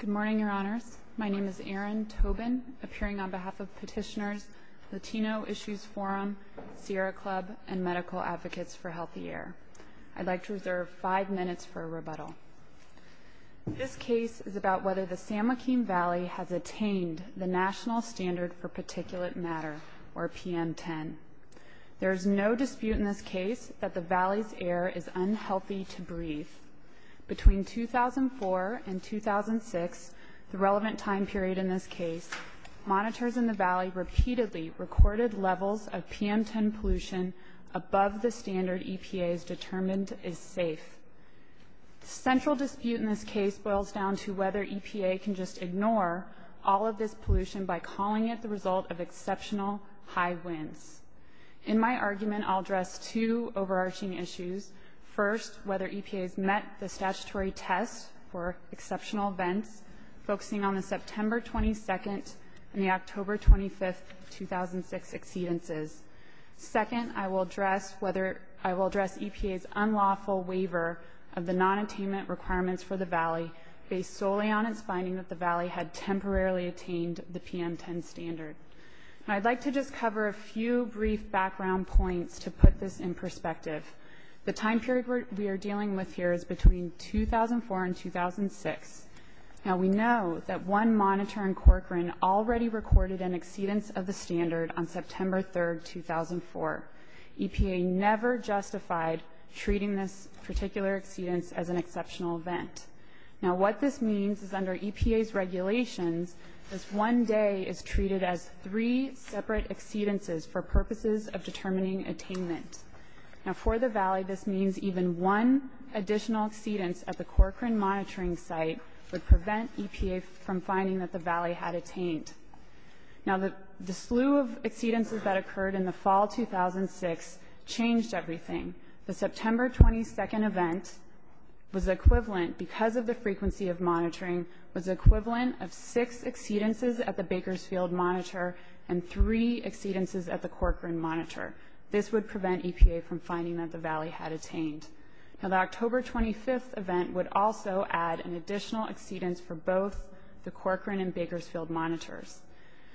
Good morning, Your Honors. My name is Erin Tobin, appearing on behalf of Petitioners, Latino Issues Forum, Sierra Club, and Medical Advocates for Healthy Air. I'd like to reserve five minutes for a rebuttal. This case is about whether the San Joaquin Valley has attained the National Standard for Particulate Matter, or PM10. There is no dispute in this case that the valley's air is unhealthy to breathe. Between 2004 and 2006, the relevant time period in this case, monitors in the valley repeatedly recorded levels of PM10 pollution above the standard EPA has determined is safe. The central dispute in this case boils down to whether EPA can just ignore all of this pollution by calling it the result of exceptional high winds. In my argument, I'll address two overarching issues. First, whether EPA has met the statutory test for exceptional events, focusing on the September 22nd and the October 25th, 2006 exceedances. Second, I will address EPA's unlawful waiver of the nonattainment requirements for the valley based solely on its finding that the valley had temporarily attained the PM10 standard. I'd like to just cover a few brief background points to put this in perspective. The time period we are dealing with here is between 2004 and 2006. Now, we know that one monitor in Corcoran already recorded an exceedance of the standard on September 3rd, 2004. EPA never justified treating this particular exceedance as an exceptional event. Now, what this means is under EPA's regulations, this one day is treated as three separate exceedances for purposes of determining attainment. Now, for the valley, this means even one additional exceedance at the Corcoran monitoring site would prevent EPA from finding that the valley had attained. Now, the slew of exceedances that occurred in the fall 2006 changed everything. The September 22nd event was equivalent, because of the frequency of monitoring, was equivalent of six exceedances at the Bakersfield monitor and three exceedances at the Corcoran monitor. This would prevent EPA from finding that the valley had attained. Now, the October 25th event would also add an additional exceedance for both the Corcoran and Bakersfield monitors.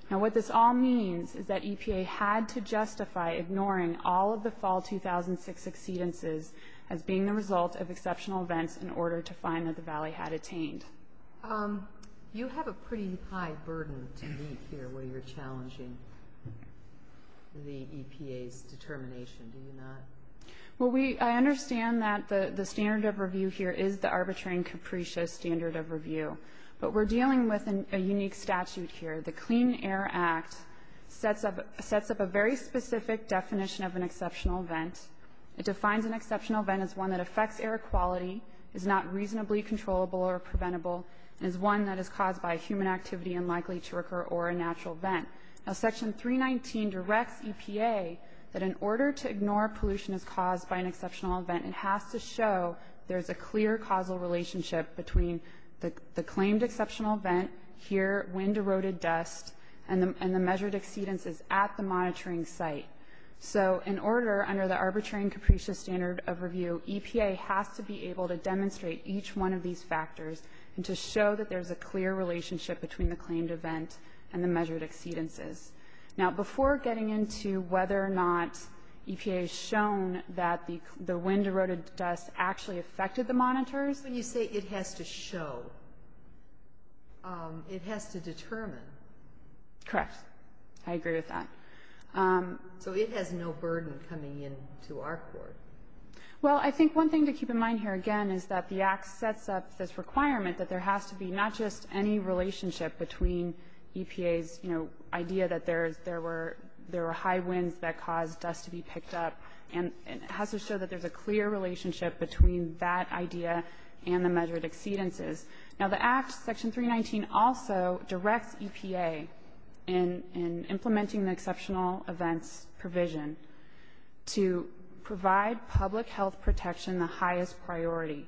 Now, what this all means is that EPA had to justify ignoring all of the fall 2006 exceedances as being the result of exceptional events in order to find that the valley had attained. You have a pretty high burden to meet here when you're challenging the EPA's determination, do you not? Well, I understand that the standard of review here is the arbitrary and capricious standard of review, but we're dealing with a unique statute here. The Clean Air Act sets up a very specific definition of an exceptional event. It defines an exceptional event as one that affects air quality, is not reasonably controllable or preventable, and is one that is caused by human activity and likely to occur or a natural event. Now, Section 319 directs EPA that in order to ignore pollution as caused by an exceptional event, it has to show there's a clear causal relationship between the claimed exceptional event here when deroded dust and the measured exceedances at the monitoring site. So in order, under the arbitrary and capricious standard of review, EPA has to be able to demonstrate each one of these factors and to show that there's a clear relationship between the claimed event and the measured exceedances. Now, before getting into whether or not EPA has shown that the wind-deroded dust actually affected the monitors When you say it has to show, it has to determine. Correct. I agree with that. So it has no burden coming into our court. Well, I think one thing to keep in mind here, again, is that the Act sets up this requirement that there has to be not just any relationship between EPA's, you know, idea that there were high winds that caused dust to be picked up, and it has to show that there's a clear relationship between that idea and the measured exceedances. Now, the Act, Section 319, also directs EPA in implementing the exceptional events provision to provide public health protection the highest priority.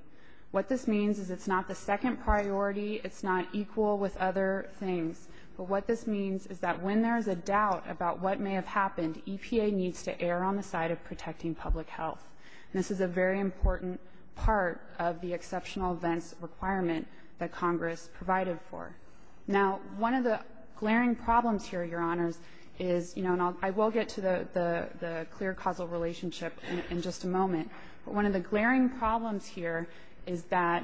What this means is it's not the second priority. It's not equal with other things. But what this means is that when there's a doubt about what may have happened, EPA needs to err on the side of protecting public health. And this is a very important part of the exceptional events requirement that Congress provided for. Now, one of the glaring problems here, Your Honors, is, you know, and I will get to the clear causal relationship in just a moment, but one of the glaring problems here is that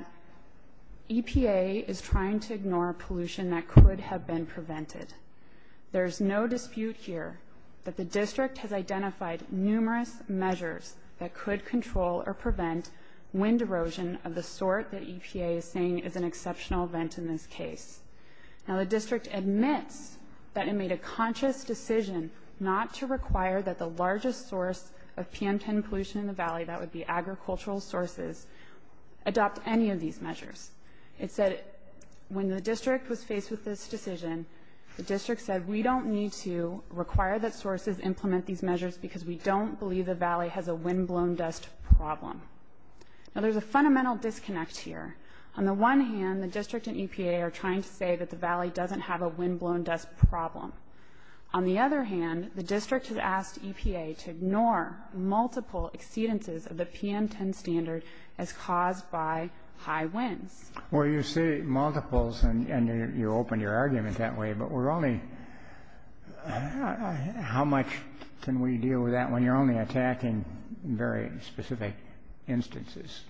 EPA is trying to ignore pollution that could have been prevented. There's no dispute here that the district has identified numerous measures that could control or prevent wind erosion of the sort that EPA is saying is an exceptional event in this case. Now, the district admits that it made a conscious decision not to require that the largest source of PM10 pollution in the Valley, that would be agricultural sources, adopt any of these measures. It said when the district was faced with this decision, the district said we don't need to require that sources implement these measures because we don't believe the Valley has a windblown dust problem. Now, there's a fundamental disconnect here. On the one hand, the district and EPA are trying to say that the Valley doesn't have a windblown dust problem. On the other hand, the district has asked EPA to ignore multiple exceedances of the PM10 standard as caused by high winds. Well, you say multiples, and you open your argument that way, but we're only – how much can we deal with that when you're only attacking very specific instances,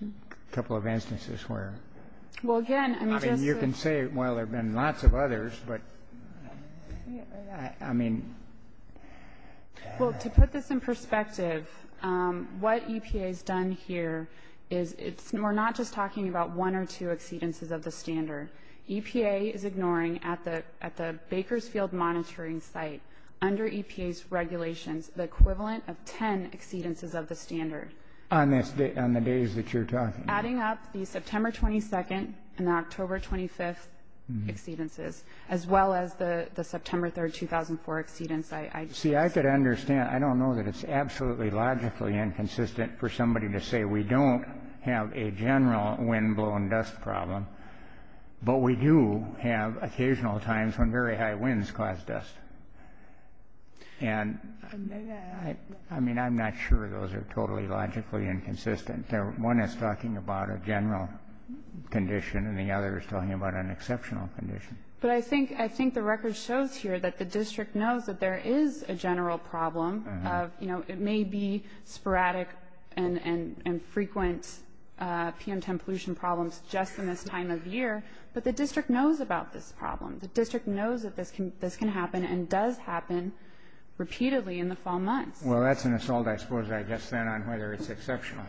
a couple of instances where – Well, again, I mean, just – I mean, you can say, well, there have been lots of others, but, I mean – Well, to put this in perspective, what EPA has done here is it's – we're not just talking about one or two exceedances of the standard. EPA is ignoring at the Bakersfield monitoring site, under EPA's regulations, the equivalent of 10 exceedances of the standard. On the days that you're talking about. Adding up the September 22nd and the October 25th exceedances, as well as the September 3rd, 2004 exceedance. See, I could understand – I don't know that it's absolutely logically inconsistent for somebody to say we don't have a general wind-blown dust problem, but we do have occasional times when very high winds cause dust. And, I mean, I'm not sure those are totally logically inconsistent. One is talking about a general condition, and the other is talking about an exceptional condition. But I think the record shows here that the district knows that there is a general problem. It may be sporadic and frequent PM10 pollution problems just in this time of year, but the district knows about this problem. The district knows that this can happen and does happen repeatedly in the fall months. Well, that's an assault, I suppose, I guess, then, on whether it's exceptional.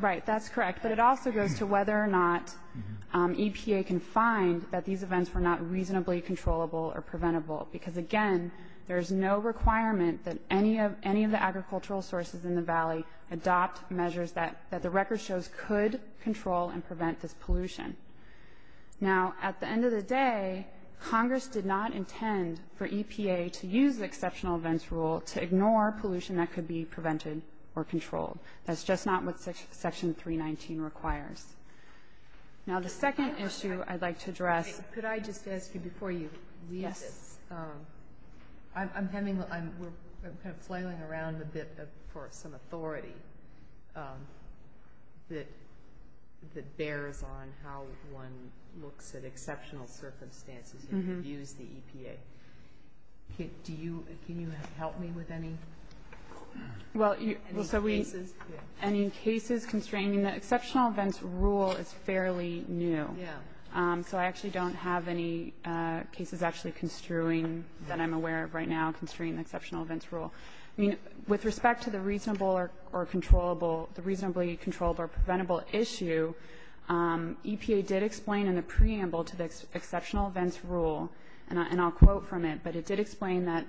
Right, that's correct. But it also goes to whether or not EPA can find that these events were not reasonably controllable or preventable, because, again, there is no requirement that any of the agricultural sources in the Valley adopt measures that the record shows could control and prevent this pollution. Now, at the end of the day, Congress did not intend for EPA to use the exceptional events rule to ignore pollution that could be prevented or controlled. That's just not what Section 319 requires. Now, the second issue I'd like to address. Could I just ask you before you leave this? Yes. I'm flailing around a bit for some authority that bears on how one looks at exceptional circumstances and views the EPA. Can you help me with any cases? Well, so any cases constraining the exceptional events rule is fairly new. So I actually don't have any cases actually construing that I'm aware of right now constraining the exceptional events rule. I mean, with respect to the reasonably controllable or preventable issue, EPA did explain in the preamble to the exceptional events rule, and I'll quote from it, but it did explain that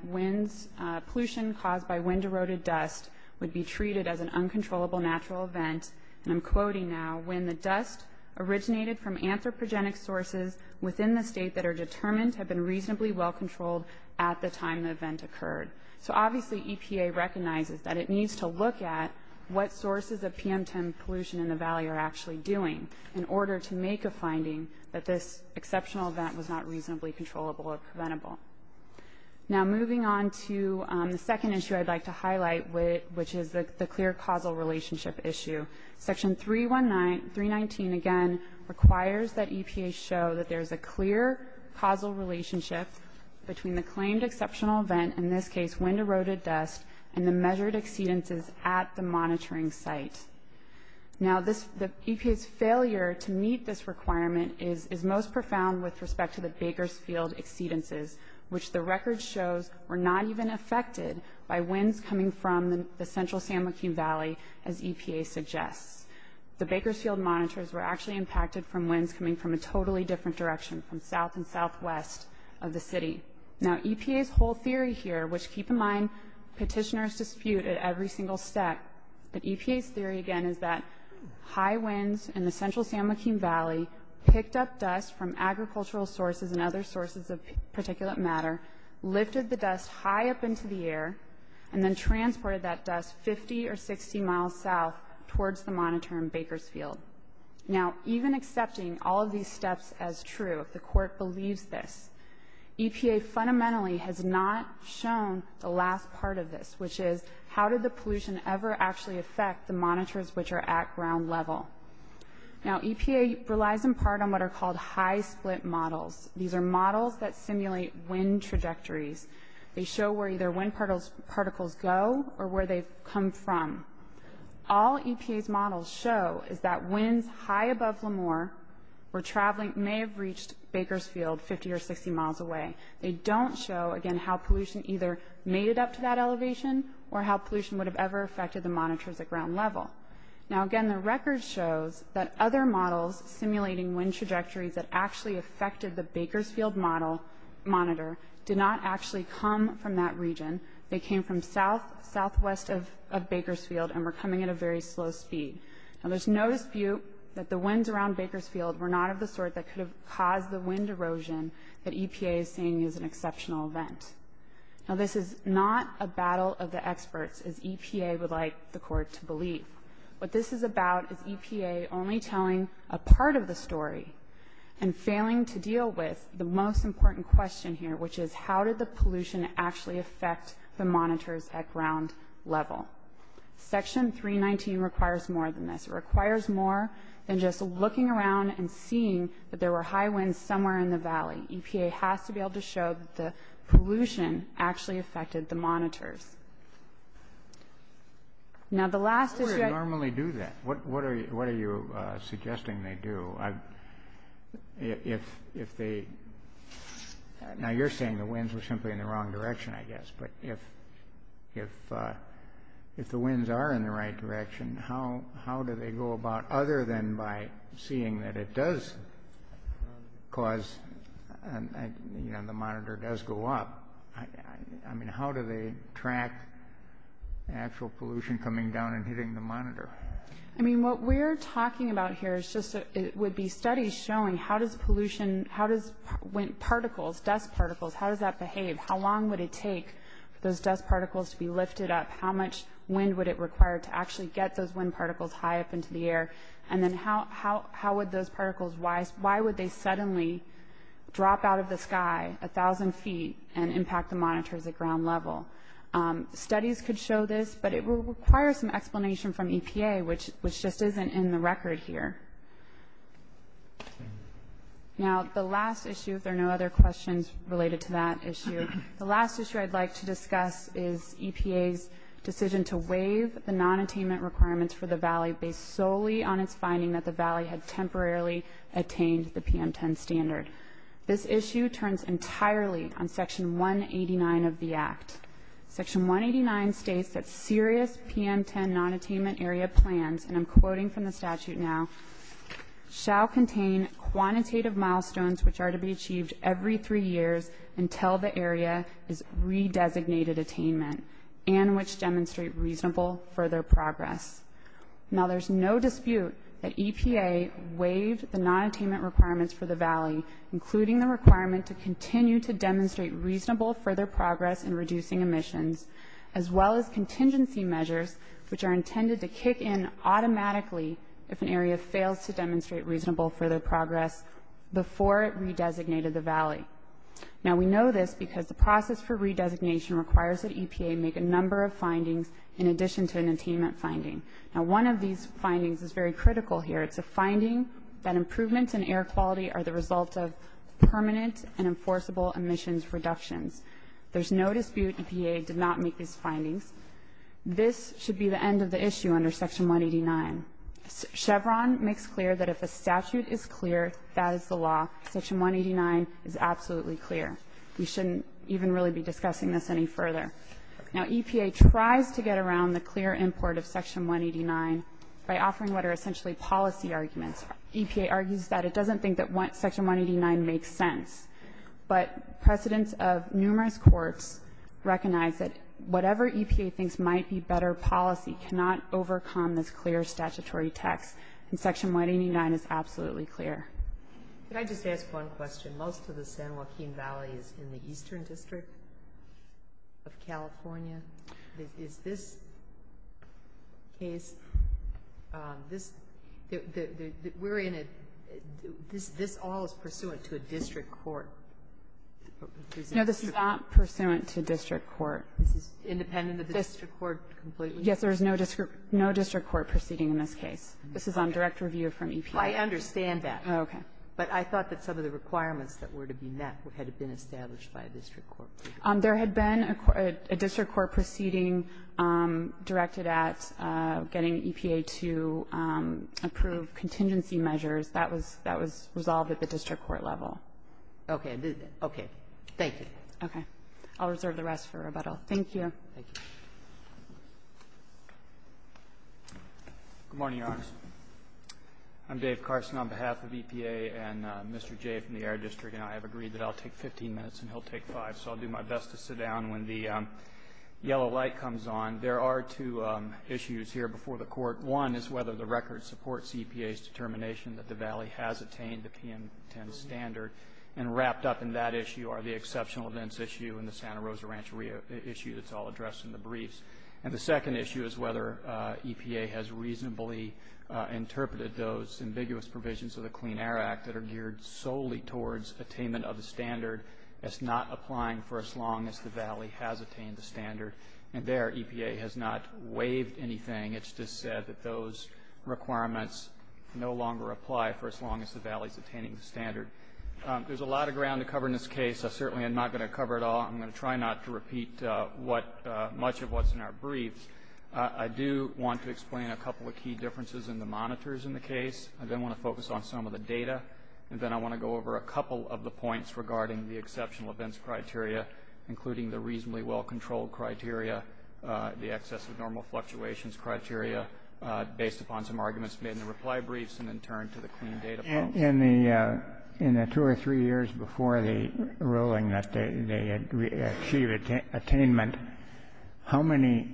pollution caused by wind-eroded dust would be treated as an uncontrollable natural event. And I'm quoting now, when the dust originated from anthropogenic sources within the state that are determined to have been reasonably well controlled at the time the event occurred. So obviously EPA recognizes that it needs to look at what sources of PM10 pollution in the Valley are actually doing in order to make a finding that this exceptional event was not reasonably controllable or preventable. Now, moving on to the second issue I'd like to highlight, which is the clear causal relationship issue. Section 319, again, requires that EPA show that there's a clear causal relationship between the claimed exceptional event, in this case wind-eroded dust, and the measured exceedances at the monitoring site. Now, EPA's failure to meet this requirement is most profound with respect to the Bakersfield exceedances, which the record shows were not even affected by winds coming from the central San Joaquin Valley, as EPA suggests. The Bakersfield monitors were actually impacted from winds coming from a totally different direction, from south and southwest of the city. Now, EPA's whole theory here, which keep in mind, petitioners dispute at every single step, but EPA's theory, again, is that high winds in the central San Joaquin Valley picked up dust from agricultural sources and other sources of particulate matter, lifted the dust high up into the air, and then transported that dust 50 or 60 miles south towards the monitor in Bakersfield. Now, even accepting all of these steps as true, if the court believes this, EPA fundamentally has not shown the last part of this, which is, how did the pollution ever actually affect the monitors which are at ground level? Now, EPA relies in part on what are called high-split models. These are models that simulate wind trajectories. They show where either wind particles go or where they've come from. All EPA's models show is that winds high above Lemoore were traveling, may have reached Bakersfield 50 or 60 miles away. They don't show, again, how pollution either made it up to that elevation or how pollution would have ever affected the monitors at ground level. Now, again, the record shows that other models simulating wind trajectories that actually affected the Bakersfield monitor did not actually come from that region. They came from southwest of Bakersfield and were coming at a very slow speed. Now, there's no dispute that the winds around Bakersfield were not of the sort that could have caused the wind erosion that EPA is saying is an exceptional event. Now, this is not a battle of the experts, as EPA would like the Court to believe. What this is about is EPA only telling a part of the story and failing to deal with the most important question here, which is, how did the pollution actually affect the monitors at ground level? Section 319 requires more than this. It's somewhere in the valley. EPA has to be able to show that the pollution actually affected the monitors. Now, the last issue – How would it normally do that? What are you suggesting they do? Now, you're saying the winds were simply in the wrong direction, I guess. But if the winds are in the right direction, how do they go about other than by seeing that it does cause – you know, the monitor does go up. I mean, how do they track actual pollution coming down and hitting the monitor? I mean, what we're talking about here is just – it would be studies showing how does pollution – how does wind particles, dust particles, how does that behave? How long would it take for those dust particles to be lifted up? How much wind would it require to actually get those wind particles high up into the air? And then how would those particles – why would they suddenly drop out of the sky 1,000 feet and impact the monitors at ground level? Studies could show this, but it will require some explanation from EPA, which just isn't in the record here. Now, the last issue, if there are no other questions related to that issue, the last issue I'd like to discuss is EPA's decision to waive the nonattainment requirements for the valley based solely on its finding that the valley had temporarily attained the PM10 standard. This issue turns entirely on Section 189 of the Act. Section 189 states that serious PM10 nonattainment area plans, and I'm quoting from the statute now, shall contain quantitative milestones which are to be achieved every three years until the area is re-designated attainment and which demonstrate reasonable further progress. Now, there's no dispute that EPA waived the nonattainment requirements for the valley, including the requirement to continue to demonstrate reasonable further progress in reducing emissions, as well as contingency measures which are intended to kick in automatically if an area fails to demonstrate reasonable further progress before it re-designated the valley. Now, we know this because the process for re-designation requires that EPA make a number of findings in addition to an attainment finding. Now, one of these findings is very critical here. It's a finding that improvements in air quality are the result of permanent and enforceable emissions reductions. There's no dispute EPA did not make these findings. This should be the end of the issue under Section 189. Chevron makes clear that if a statute is clear, that is the law. Section 189 is absolutely clear. We shouldn't even really be discussing this any further. Now, EPA tries to get around the clear import of Section 189 by offering what are essentially policy arguments. EPA argues that it doesn't think that Section 189 makes sense, but precedents of numerous courts recognize that whatever EPA thinks might be better policy cannot overcome this clear statutory text, and Section 189 is absolutely clear. Can I just ask one question? Most of the San Joaquin Valley is in the eastern district of California. Is this case, this, we're in a, this all is pursuant to a district court. No, this is not pursuant to a district court. This is independent of the district court completely? Yes, there is no district court proceeding in this case. This is on direct review from EPA. I understand that. Okay. But I thought that some of the requirements that were to be met had been established by a district court proceeding. There had been a district court proceeding directed at getting EPA to approve contingency measures. That was resolved at the district court level. Okay. Thank you. Okay. I'll reserve the rest for rebuttal. Thank you. Thank you. Good morning, Your Honor. I'm Dave Carson on behalf of EPA and Mr. Jay from the Air District, and I have agreed that I'll take 15 minutes and he'll take five, so I'll do my best to sit down when the yellow light comes on. There are two issues here before the court. One is whether the record supports EPA's determination that the valley has attained the PM10 standard, and wrapped up in that issue are the exceptional events issue and the Santa Rosa Rancheria issue that's all addressed in the briefs. And the second issue is whether EPA has reasonably interpreted those ambiguous provisions of the Clean Air Act that are geared solely towards attainment of the standard as not applying for as long as the valley has attained the standard. And there, EPA has not waived anything. It's just said that those requirements no longer apply for as long as the valley is attaining the standard. There's a lot of ground to cover in this case. I certainly am not going to cover it all. I'm going to try not to repeat much of what's in our briefs. I do want to explain a couple of key differences in the monitors in the case. I then want to focus on some of the data. And then I want to go over a couple of the points regarding the exceptional events criteria, including the reasonably well-controlled criteria, the excess of normal fluctuations criteria, based upon some arguments made in the reply briefs, and then turn to the clean data. In the two or three years before the ruling that they achieved attainment, how many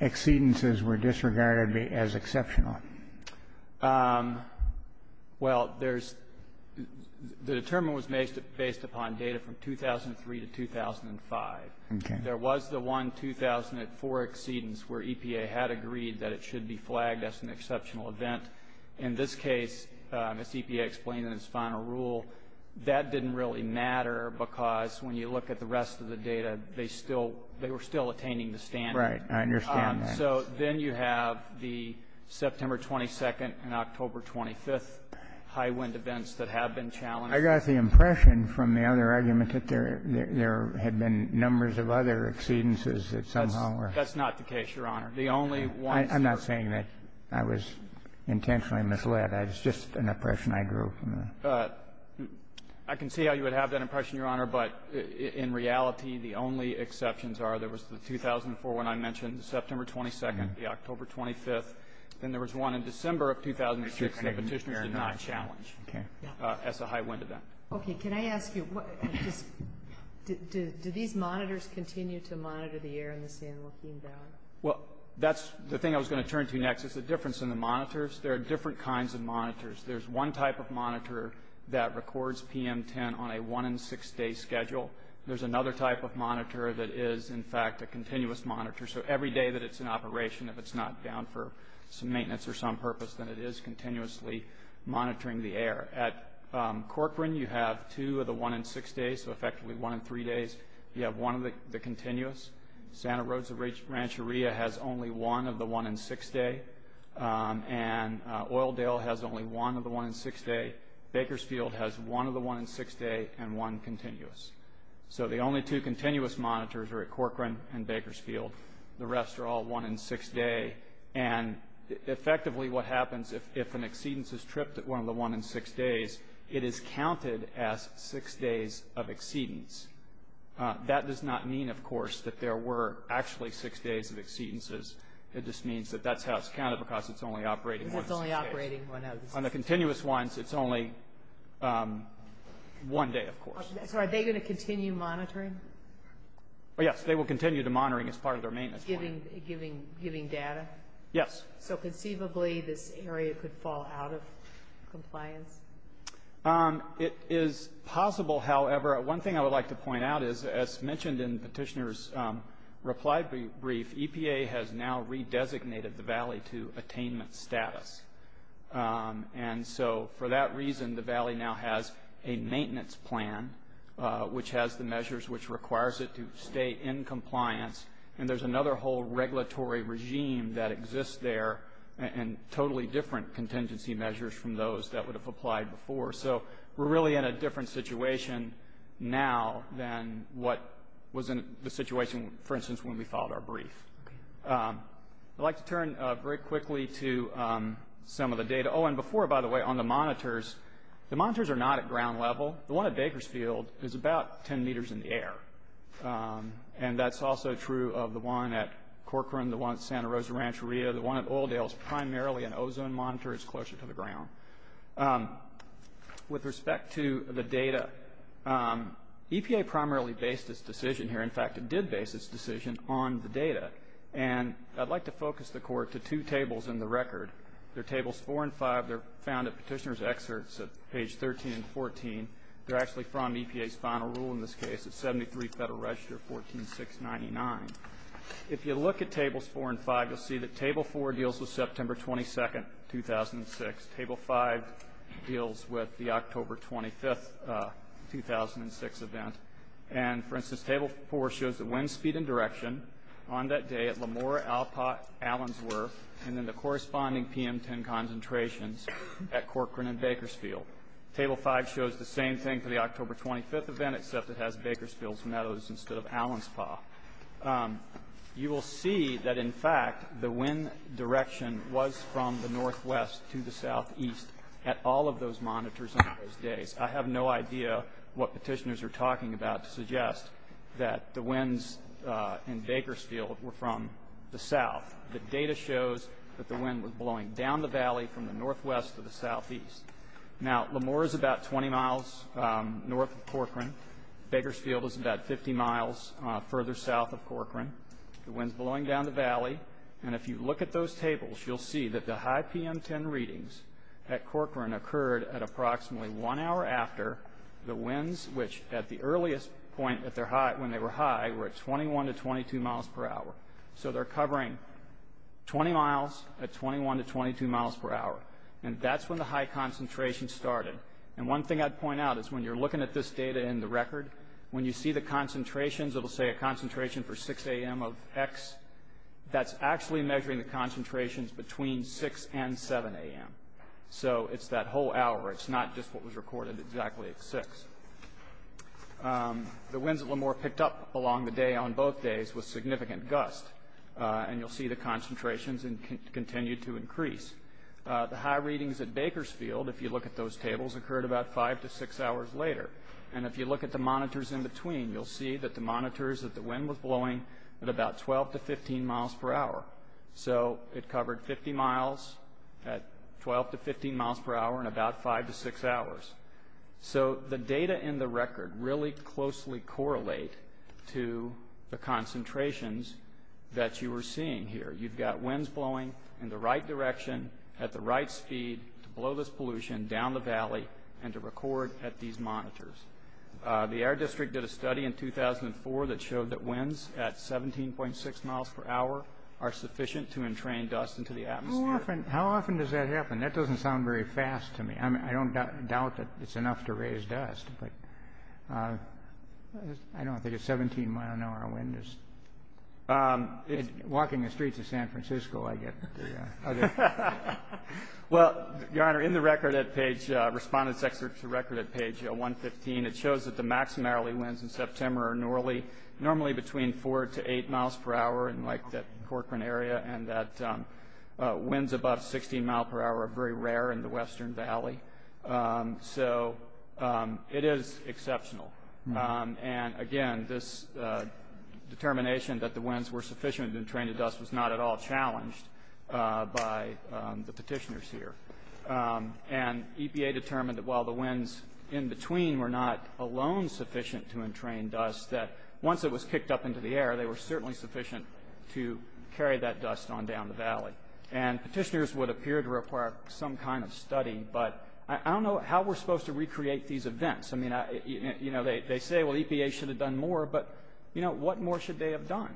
exceedances were disregarded as exceptional? Well, the determination was based upon data from 2003 to 2005. There was the one 2004 exceedance where EPA had agreed that it should be flagged as an exceptional event. In this case, as EPA explained in its final rule, that didn't really matter, because when you look at the rest of the data, they were still attaining the standard. Right. I understand that. So then you have the September 22nd and October 25th high-wind events that have been challenged. I got the impression from the other argument that there had been numbers of other exceedances that somehow were. That's not the case, Your Honor. The only ones that were. I'm not saying that I was intentionally misled. It's just an impression I drew from the. I can see how you would have that impression, Your Honor. But in reality, the only exceptions are there was the 2004 one I mentioned, the September 22nd, the October 25th. Then there was one in December of 2006 that the petitioners did not challenge as a high-wind event. Okay. Can I ask you, do these monitors continue to monitor the air in the sand looking down? Well, that's the thing I was going to turn to next is the difference in the monitors. There are different kinds of monitors. There's one type of monitor that records PM10 on a one-in-six-day schedule. There's another type of monitor that is, in fact, a continuous monitor. So every day that it's in operation, if it's not down for some maintenance or some purpose, then it is continuously monitoring the air. At Corcoran, you have two of the one-in-six days, so effectively one in three days. You have one of the continuous. Santa Rosa Rancheria has only one of the one-in-six day. And Oildale has only one of the one-in-six day. Bakersfield has one of the one-in-six day and one continuous. So the only two continuous monitors are at Corcoran and Bakersfield. The rest are all one-in-six day. And effectively what happens if an exceedance is tripped at one of the one-in-six days, it is counted as six days of exceedance. That does not mean, of course, that there were actually six days of exceedances. It just means that that's how it's counted because it's only operating one of the six days. Because it's only operating one of the six days. On the continuous ones, it's only one day, of course. So are they going to continue monitoring? Yes, they will continue to monitoring as part of their maintenance plan. Giving data? Yes. So conceivably this area could fall out of compliance? It is possible, however. One thing I would like to point out is, as mentioned in Petitioner's reply brief, EPA has now redesignated the valley to attainment status. And so for that reason, the valley now has a maintenance plan, which has the measures which requires it to stay in compliance. And there's another whole regulatory regime that exists there and totally different contingency measures from those that would have applied before. So we're really in a different situation now than what was in the situation, for instance, when we filed our brief. I'd like to turn very quickly to some of the data. Oh, and before, by the way, on the monitors, the monitors are not at ground level. The one at Bakersfield is about 10 meters in the air. And that's also true of the one at Corcoran, the one at Santa Rosa Rancheria. The one at Oildale is primarily an ozone monitor. It's closer to the ground. With respect to the data, EPA primarily based its decision here. In fact, it did base its decision on the data. And I'd like to focus the Court to two tables in the record. They're Tables 4 and 5. They're found at Petitioner's excerpts at page 13 and 14. They're actually from EPA's final rule in this case. It's 73 Federal Register 14699. If you look at Tables 4 and 5, you'll see that Table 4 deals with September 22, 2006. Table 5 deals with the October 25, 2006, event. And, for instance, Table 4 shows the wind speed and direction on that day at Lamora Allensworth and then the corresponding PM10 concentrations at Corcoran and Bakersfield. Table 5 shows the same thing for the October 25 event, except it has Bakersfield's Meadows instead of Allenspaw. You will see that, in fact, the wind direction was from the northwest to the southeast at all of those monitors on those days. I have no idea what Petitioners are talking about to suggest that the winds in Bakersfield were from the south. The data shows that the wind was blowing down the valley from the northwest to the southeast. Now, Lamora is about 20 miles north of Corcoran. Bakersfield is about 50 miles further south of Corcoran. The wind's blowing down the valley. And if you look at those tables, you'll see that the high PM10 readings at Corcoran occurred at approximately one hour after the winds, which at the earliest point when they were high, were at 21 to 22 miles per hour. So they're covering 20 miles at 21 to 22 miles per hour. And that's when the high concentration started. And one thing I'd point out is when you're looking at this data in the record, when you see the concentrations, it'll say a concentration for 6 a.m. of X, that's actually measuring the concentrations between 6 and 7 a.m. So it's that whole hour. It's not just what was recorded exactly at 6. The winds at Lamora picked up along the day on both days with significant gusts. And you'll see the concentrations continue to increase. The high readings at Bakersfield, if you look at those tables, occurred about 5 to 6 hours later. And if you look at the monitors in between, you'll see that the monitors that the wind was blowing at about 12 to 15 miles per hour. So it covered 50 miles at 12 to 15 miles per hour in about 5 to 6 hours. So the data in the record really closely correlate to the concentrations that you are seeing here. You've got winds blowing in the right direction at the right speed to blow this pollution down the valley and to record at these monitors. The Air District did a study in 2004 that showed that winds at 17.6 miles per hour are sufficient to entrain dust into the atmosphere. How often does that happen? That doesn't sound very fast to me. I don't doubt that it's enough to raise dust, but I don't think a 17-mile-an-hour wind is. Walking the streets of San Francisco, I guess. Well, Your Honor, in the record at page, Respondent's Excerpt to Record at page 115, it shows that the maximally winds in September are normally between 4 to 8 miles per hour in that Corcoran area, and that winds above 16 miles per hour are very rare in the Western Valley. So it is exceptional. And, again, this determination that the winds were sufficient to entrain the dust was not at all challenged by the petitioners here. And EPA determined that while the winds in between were not alone sufficient to entrain dust, that once it was kicked up into the air, they were certainly sufficient to carry that dust on down the valley. And petitioners would appear to require some kind of study, but I don't know how we're supposed to recreate these events. I mean, you know, they say, well, EPA should have done more, but, you know, what more should they have done?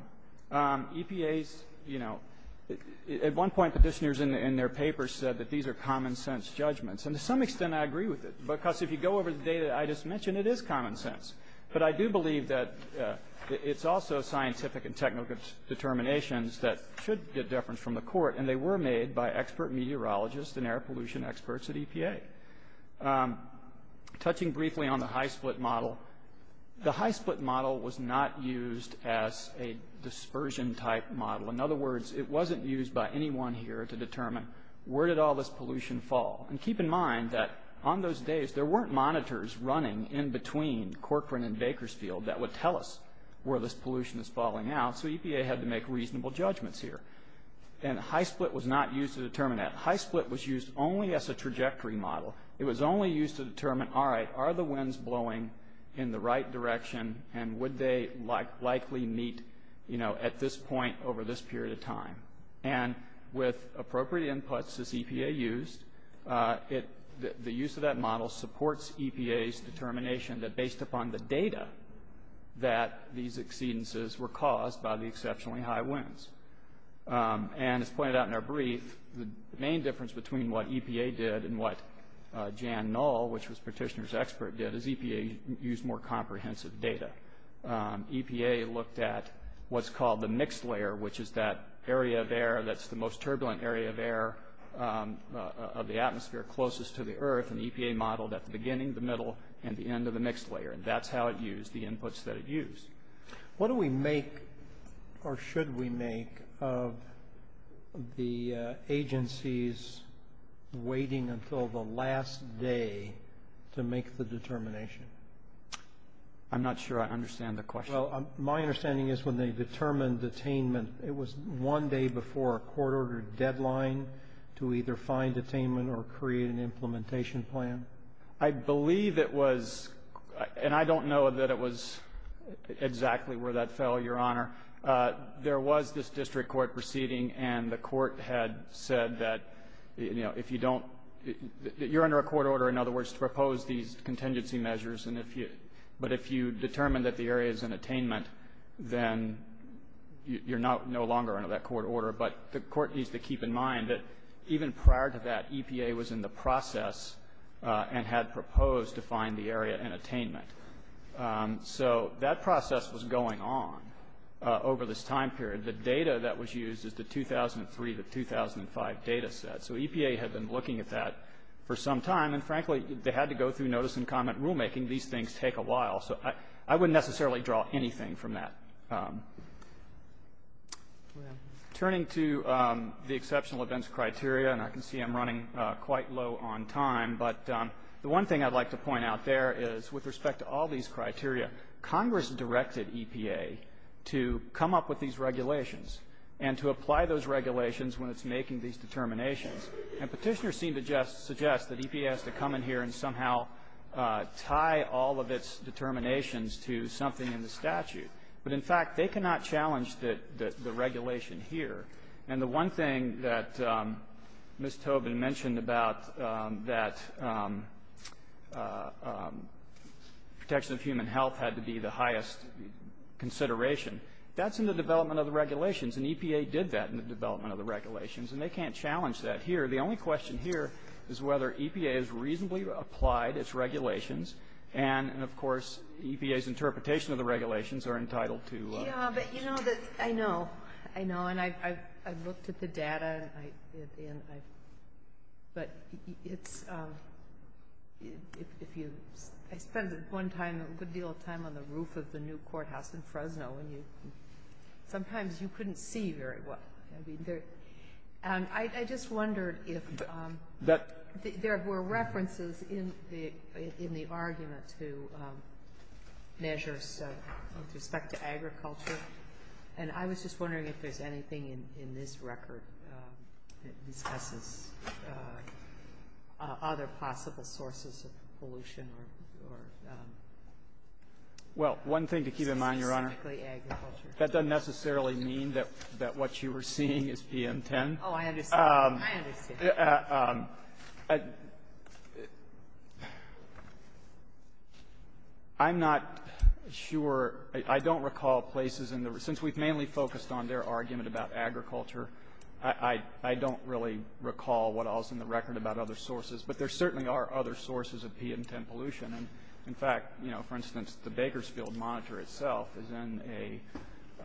EPA's, you know, at one point petitioners in their papers said that these are common-sense judgments, and to some extent I agree with it, because if you go over the data I just mentioned, it is common sense. But I do believe that it's also scientific and technical determinations that should get deference from the court, and they were made by expert meteorologists and air pollution experts at EPA. Touching briefly on the high-split model, the high-split model was not used as a dispersion-type model. In other words, it wasn't used by anyone here to determine where did all this pollution fall. And keep in mind that on those days there weren't monitors running in between Corcoran and Bakersfield that would tell us where this pollution is falling out, so EPA had to make reasonable judgments here. And high-split was not used to determine that. High-split was used only as a trajectory model. It was only used to determine, all right, are the winds blowing in the right direction, and would they likely meet, you know, at this point over this period of time? And with appropriate inputs, as EPA used, the use of that model supports EPA's determination that, based upon the data, that these exceedances were caused by the exceptionally high winds. And as pointed out in our brief, the main difference between what EPA did and what Jan Knoll, which was Petitioner's expert, did is EPA used more comprehensive data. EPA looked at what's called the mixed layer, which is that area of air that's the most turbulent area of air of the atmosphere closest to the earth, and EPA modeled at the beginning, the middle, and the end of the mixed layer. And that's how it used the inputs that it used. What do we make, or should we make, of the agencies waiting until the last day to make the determination? I'm not sure I understand the question. Well, my understanding is when they determined attainment, it was one day before a court-ordered deadline to either find attainment or create an implementation plan? I believe it was, and I don't know that it was exactly where that fell, Your Honor. There was this district court proceeding, and the court had said that, you know, if you don't, you're under a court order, in other words, to propose these contingency measures, but if you determine that the area is in attainment, then you're no longer under that court order. But the court needs to keep in mind that even prior to that, EPA was in the process and had proposed to find the area in attainment. So that process was going on over this time period. The data that was used is the 2003 to 2005 data set. So EPA had been looking at that for some time, and frankly, they had to go through notice and comment rulemaking. These things take a while, so I wouldn't necessarily draw anything from that. Turning to the exceptional events criteria, and I can see I'm running quite low on time, but the one thing I'd like to point out there is, with respect to all these criteria, Congress directed EPA to come up with these regulations and to apply those regulations when it's making these determinations. And Petitioners seem to just suggest that EPA has to come in here and somehow tie all of its determinations to something in the statute. But, in fact, they cannot challenge the regulation here. And the one thing that Ms. Tobin mentioned about that protection of human health had to be the highest consideration, that's in the development of the regulations, and EPA did that in the development of the regulations. And they can't challenge that here. The only question here is whether EPA has reasonably applied its regulations, and, of course, EPA's interpretation of the regulations are entitled to change. Yeah, but you know, I know. I know. And I've looked at the data. But it's – I spent a good deal of time on the roof of the new courthouse in Fresno, and sometimes you couldn't see very well. I just wondered if there were references in the argument to measures with respect to agriculture, and I was just wondering if there's anything in this record that discusses other possible sources of pollution or specifically agriculture. Well, one thing to keep in mind, Your Honor, That doesn't necessarily mean that what you are seeing is PM10. Oh, I understand. I understand. I'm not sure – I don't recall places in the – since we've mainly focused on their argument about agriculture, I don't really recall what else in the record about other sources. But there certainly are other sources of PM10 pollution. And, in fact, you know, for instance, the Bakersfield monitor itself is in a –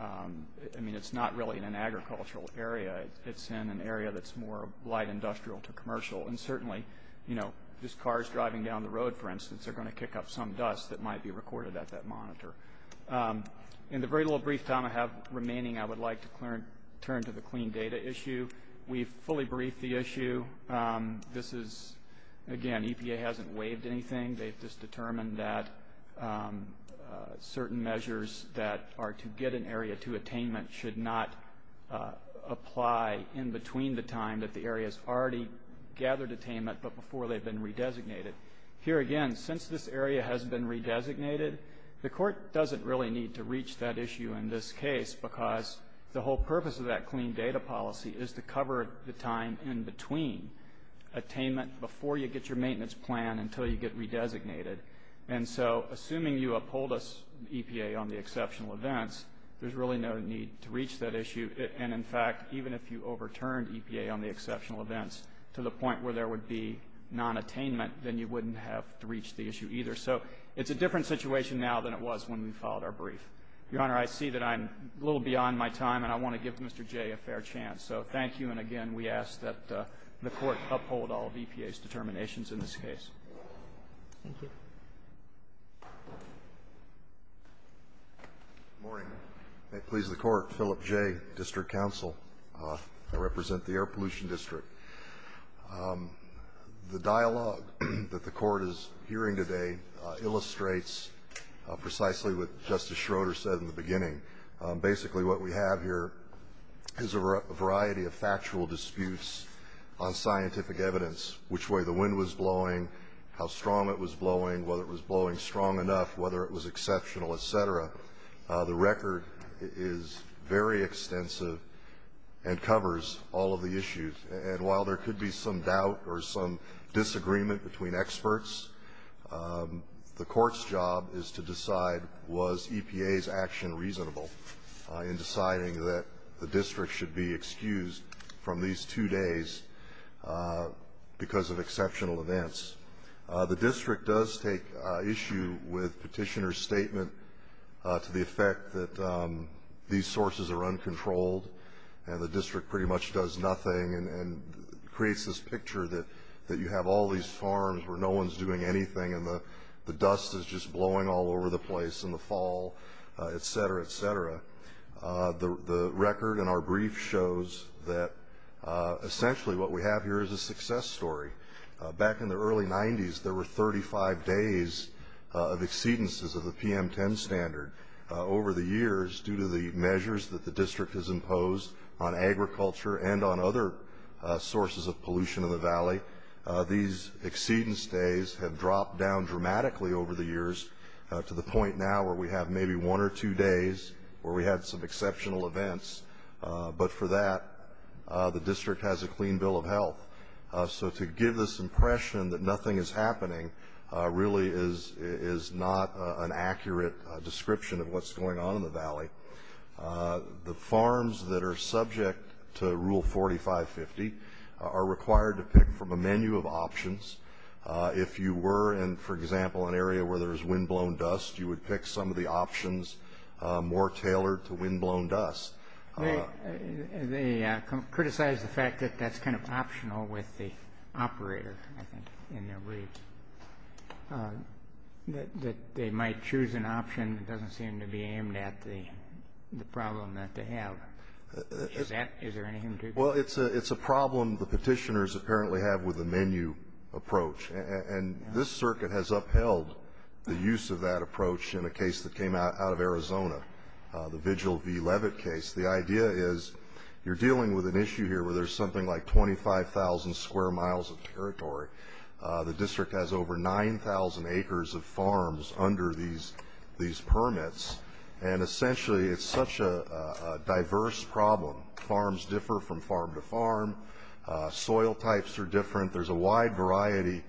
I mean, it's not really in an agricultural area. It's in an area that's more light industrial to commercial. And certainly, you know, just cars driving down the road, for instance, are going to kick up some dust that might be recorded at that monitor. In the very little brief time I have remaining, I would like to turn to the clean data issue. We've fully briefed the issue. This is – again, EPA hasn't waived anything. They've just determined that certain measures that are to get an area to attainment should not apply in between the time that the area has already gathered attainment but before they've been redesignated. Here, again, since this area has been redesignated, the court doesn't really need to reach that issue in this case because the whole purpose of that clean data policy is to cover the time in between attainment before you get your maintenance plan until you get redesignated. And so assuming you uphold us, EPA, on the exceptional events, there's really no need to reach that issue. And in fact, even if you overturned EPA on the exceptional events to the point where there would be non-attainment, then you wouldn't have to reach the issue either. So it's a different situation now than it was when we filed our brief. Your Honor, I see that I'm a little beyond my time, and I want to give Mr. Jay a fair chance. So thank you. And, again, we ask that the court uphold all of EPA's determinations in this case. Thank you. Good morning. May it please the Court, Philip Jay, District Counsel. I represent the Air Pollution District. The dialogue that the Court is hearing today illustrates precisely what Justice Schroeder said in the beginning. Basically what we have here is a variety of factual disputes on scientific evidence, which way the wind was blowing, how strong it was blowing, whether it was blowing strong enough, whether it was exceptional, et cetera. The record is very extensive and covers all of the issues. And while there could be some doubt or some disagreement between experts, the Court's job is to decide was EPA's action reasonable in deciding that the district should be excused from these two days because of exceptional events. The district does take issue with Petitioner's statement to the effect that these sources are uncontrolled and the district pretty much does nothing and creates this picture that you have all these farms where no one's doing anything and the dust is just blowing all over the place in the fall, et cetera, et cetera. The record in our brief shows that essentially what we have here is a success story. Back in the early 90s, there were 35 days of exceedances of the PM10 standard over the years due to the measures that the district has imposed on agriculture and on other sources of pollution in the valley. These exceedance days have dropped down dramatically over the years to the point now where we have maybe one or two days where we had some exceptional events. But for that, the district has a clean bill of health. So to give this impression that nothing is happening really is not an accurate description of what's going on in the valley. The farms that are subject to Rule 4550 are required to pick from a menu of options. If you were in, for example, an area where there was windblown dust, you would pick some of the options more tailored to windblown dust. They criticize the fact that that's kind of optional with the operator, I think, in their briefs, that they might choose an option that doesn't seem to be aimed at the problem that they have. Is there anything to it? Well, it's a problem the petitioners apparently have with the menu approach. And this circuit has upheld the use of that approach in a case that came out of Arizona, the Vigil v. Levitt case. The idea is you're dealing with an issue here where there's something like 25,000 square miles of territory. The district has over 9,000 acres of farms under these permits. And essentially it's such a diverse problem. Farms differ from farm to farm. Soil types are different. There's a wide variety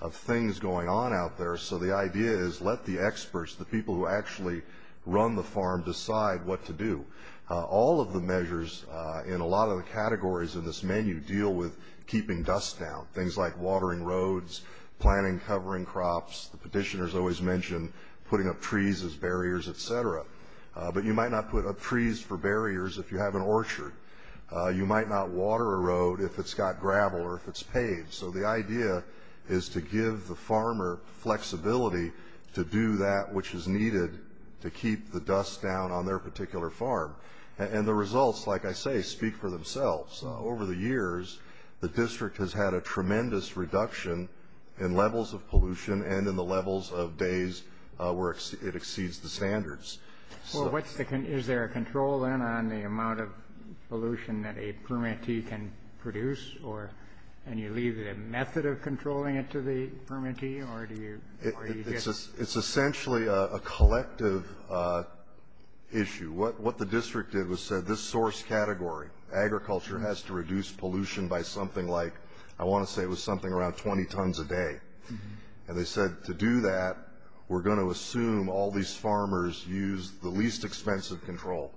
of things going on out there. So the idea is let the experts, the people who actually run the farm, decide what to do. All of the measures in a lot of the categories in this menu deal with keeping dust down, things like watering roads, planting covering crops. The petitioners always mention putting up trees as barriers, et cetera. But you might not put up trees for barriers if you have an orchard. You might not water a road if it's got gravel or if it's paved. So the idea is to give the farmer flexibility to do that which is needed to keep the dust down on their particular farm. And the results, like I say, speak for themselves. Over the years, the district has had a tremendous reduction in levels of pollution and in the levels of days where it exceeds the standards. Is there a control then on the amount of pollution that a permittee can produce? And you leave it a method of controlling it to the permittee? It's essentially a collective issue. What the district did was said this source category, agriculture, has to reduce pollution by something like, I want to say it was something around 20 tons a day. And they said to do that, we're going to assume all these farmers use the least expensive control.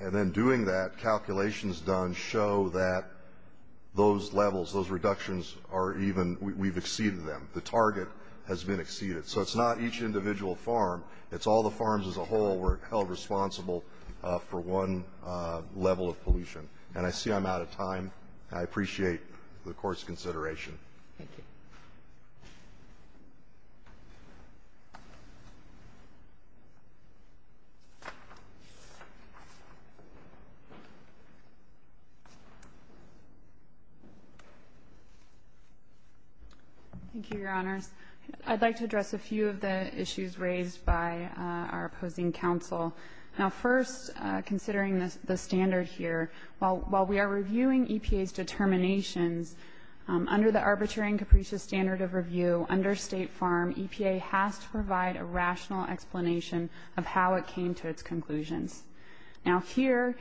And then doing that, calculations done show that those levels, those reductions are even, we've exceeded them. The target has been exceeded. So it's not each individual farm. It's all the farms as a whole were held responsible for one level of pollution. And I see I'm out of time. I appreciate the Court's consideration. Thank you. Thank you, Your Honors. I'd like to address a few of the issues raised by our opposing counsel. Now, first, considering the standard here, while we are reviewing EPA's determinations, under the Arbitrary and Capricious Standard of Review, under State Farm, EPA has to provide a rational explanation of how it came to its conclusions. Now, here,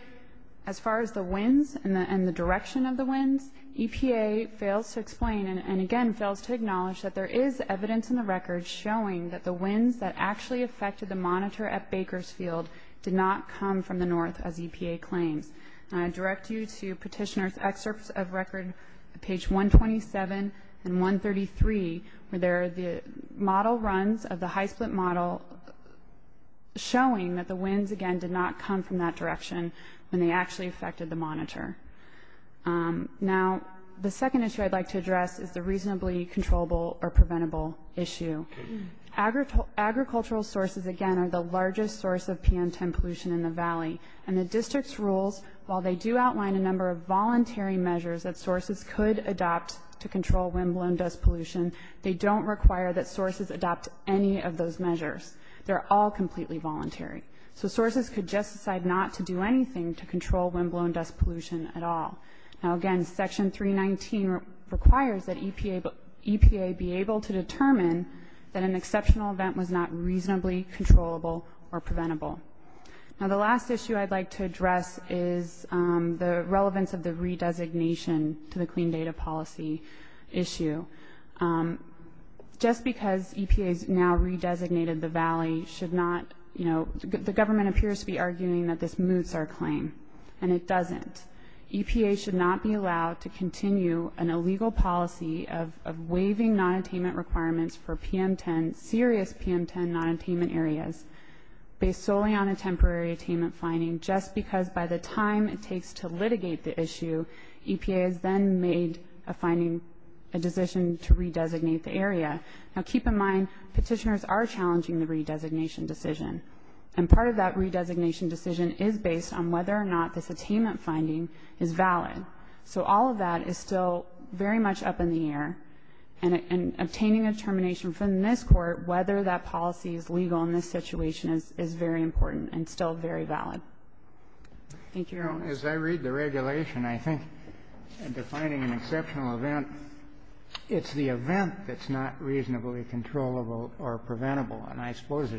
as far as the winds and the direction of the winds, EPA fails to explain and, again, fails to acknowledge that there is evidence in the record showing that the winds that actually affected the monitor at Bakersfield did not come from the north, as EPA claims. And I direct you to Petitioner's Excerpts of Record, page 127 and 133, where there are the model runs of the high-split model showing that the winds, again, did not come from that direction when they actually affected the monitor. Now, the second issue I'd like to address is the reasonably controllable or preventable issue. Agricultural sources, again, are the largest source of PM10 pollution in the Valley, and the District's rules, while they do outline a number of voluntary measures that sources could adopt to control windblown dust pollution, they don't require that sources adopt any of those measures. They're all completely voluntary. So sources could just decide not to do anything to control windblown dust pollution at all. Now, again, Section 319 requires that EPA be able to determine that an exceptional event was not reasonably controllable or preventable. Now, the last issue I'd like to address is the relevance of the re-designation to the Clean Data Policy issue. Just because EPA has now re-designated the Valley should not, you know, the government appears to be arguing that this moots our claim, and it doesn't. EPA should not be allowed to continue an illegal policy of waiving nonattainment requirements for PM10, serious PM10 nonattainment areas, based solely on a temporary attainment finding just because by the time it takes to litigate the issue, EPA has then made a finding, a decision to re-designate the area. Now, keep in mind, petitioners are challenging the re-designation decision, and part of that re-designation decision is based on whether or not this attainment finding is valid. So all of that is still very much up in the air, and obtaining a determination from this Court whether that policy is legal in this situation is very important and still very valid. Thank you, Your Honor. As I read the regulation, I think in defining an exceptional event, it's the event that's not reasonably controllable or preventable, and I suppose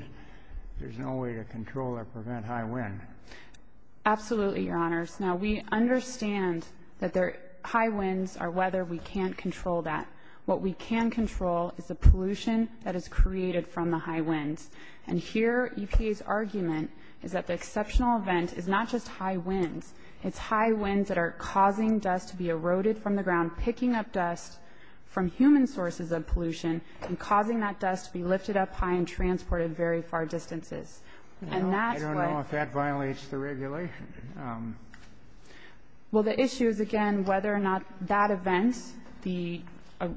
there's no way to control or prevent high wind. Absolutely, Your Honors. Now, we understand that high winds are weather. We can't control that. What we can control is the pollution that is created from the high winds, and here EPA's argument is that the exceptional event is not just high winds. It's high winds that are causing dust to be eroded from the ground, picking up dust from human sources of pollution, and causing that dust to be lifted up high and transported very far distances. I don't know if that violates the regulation. Well, the issue is, again, whether or not that event, the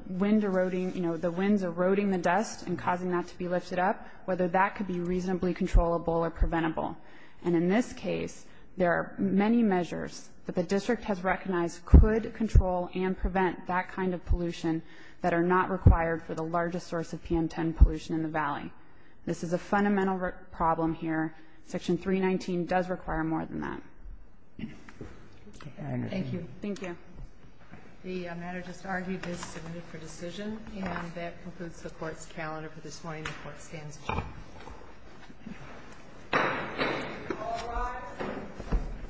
wind eroding, you know, the winds eroding the dust and causing that to be lifted up, whether that could be reasonably controllable or preventable. And in this case, there are many measures that the district has recognized could control and prevent that kind of pollution that are not required for the largest source of PM10 pollution in the Valley. This is a fundamental problem here. Section 319 does require more than that. Thank you. Thank you. The matter just argued is submitted for decision, and that concludes the Court's calendar for this morning. The Court stands adjourned.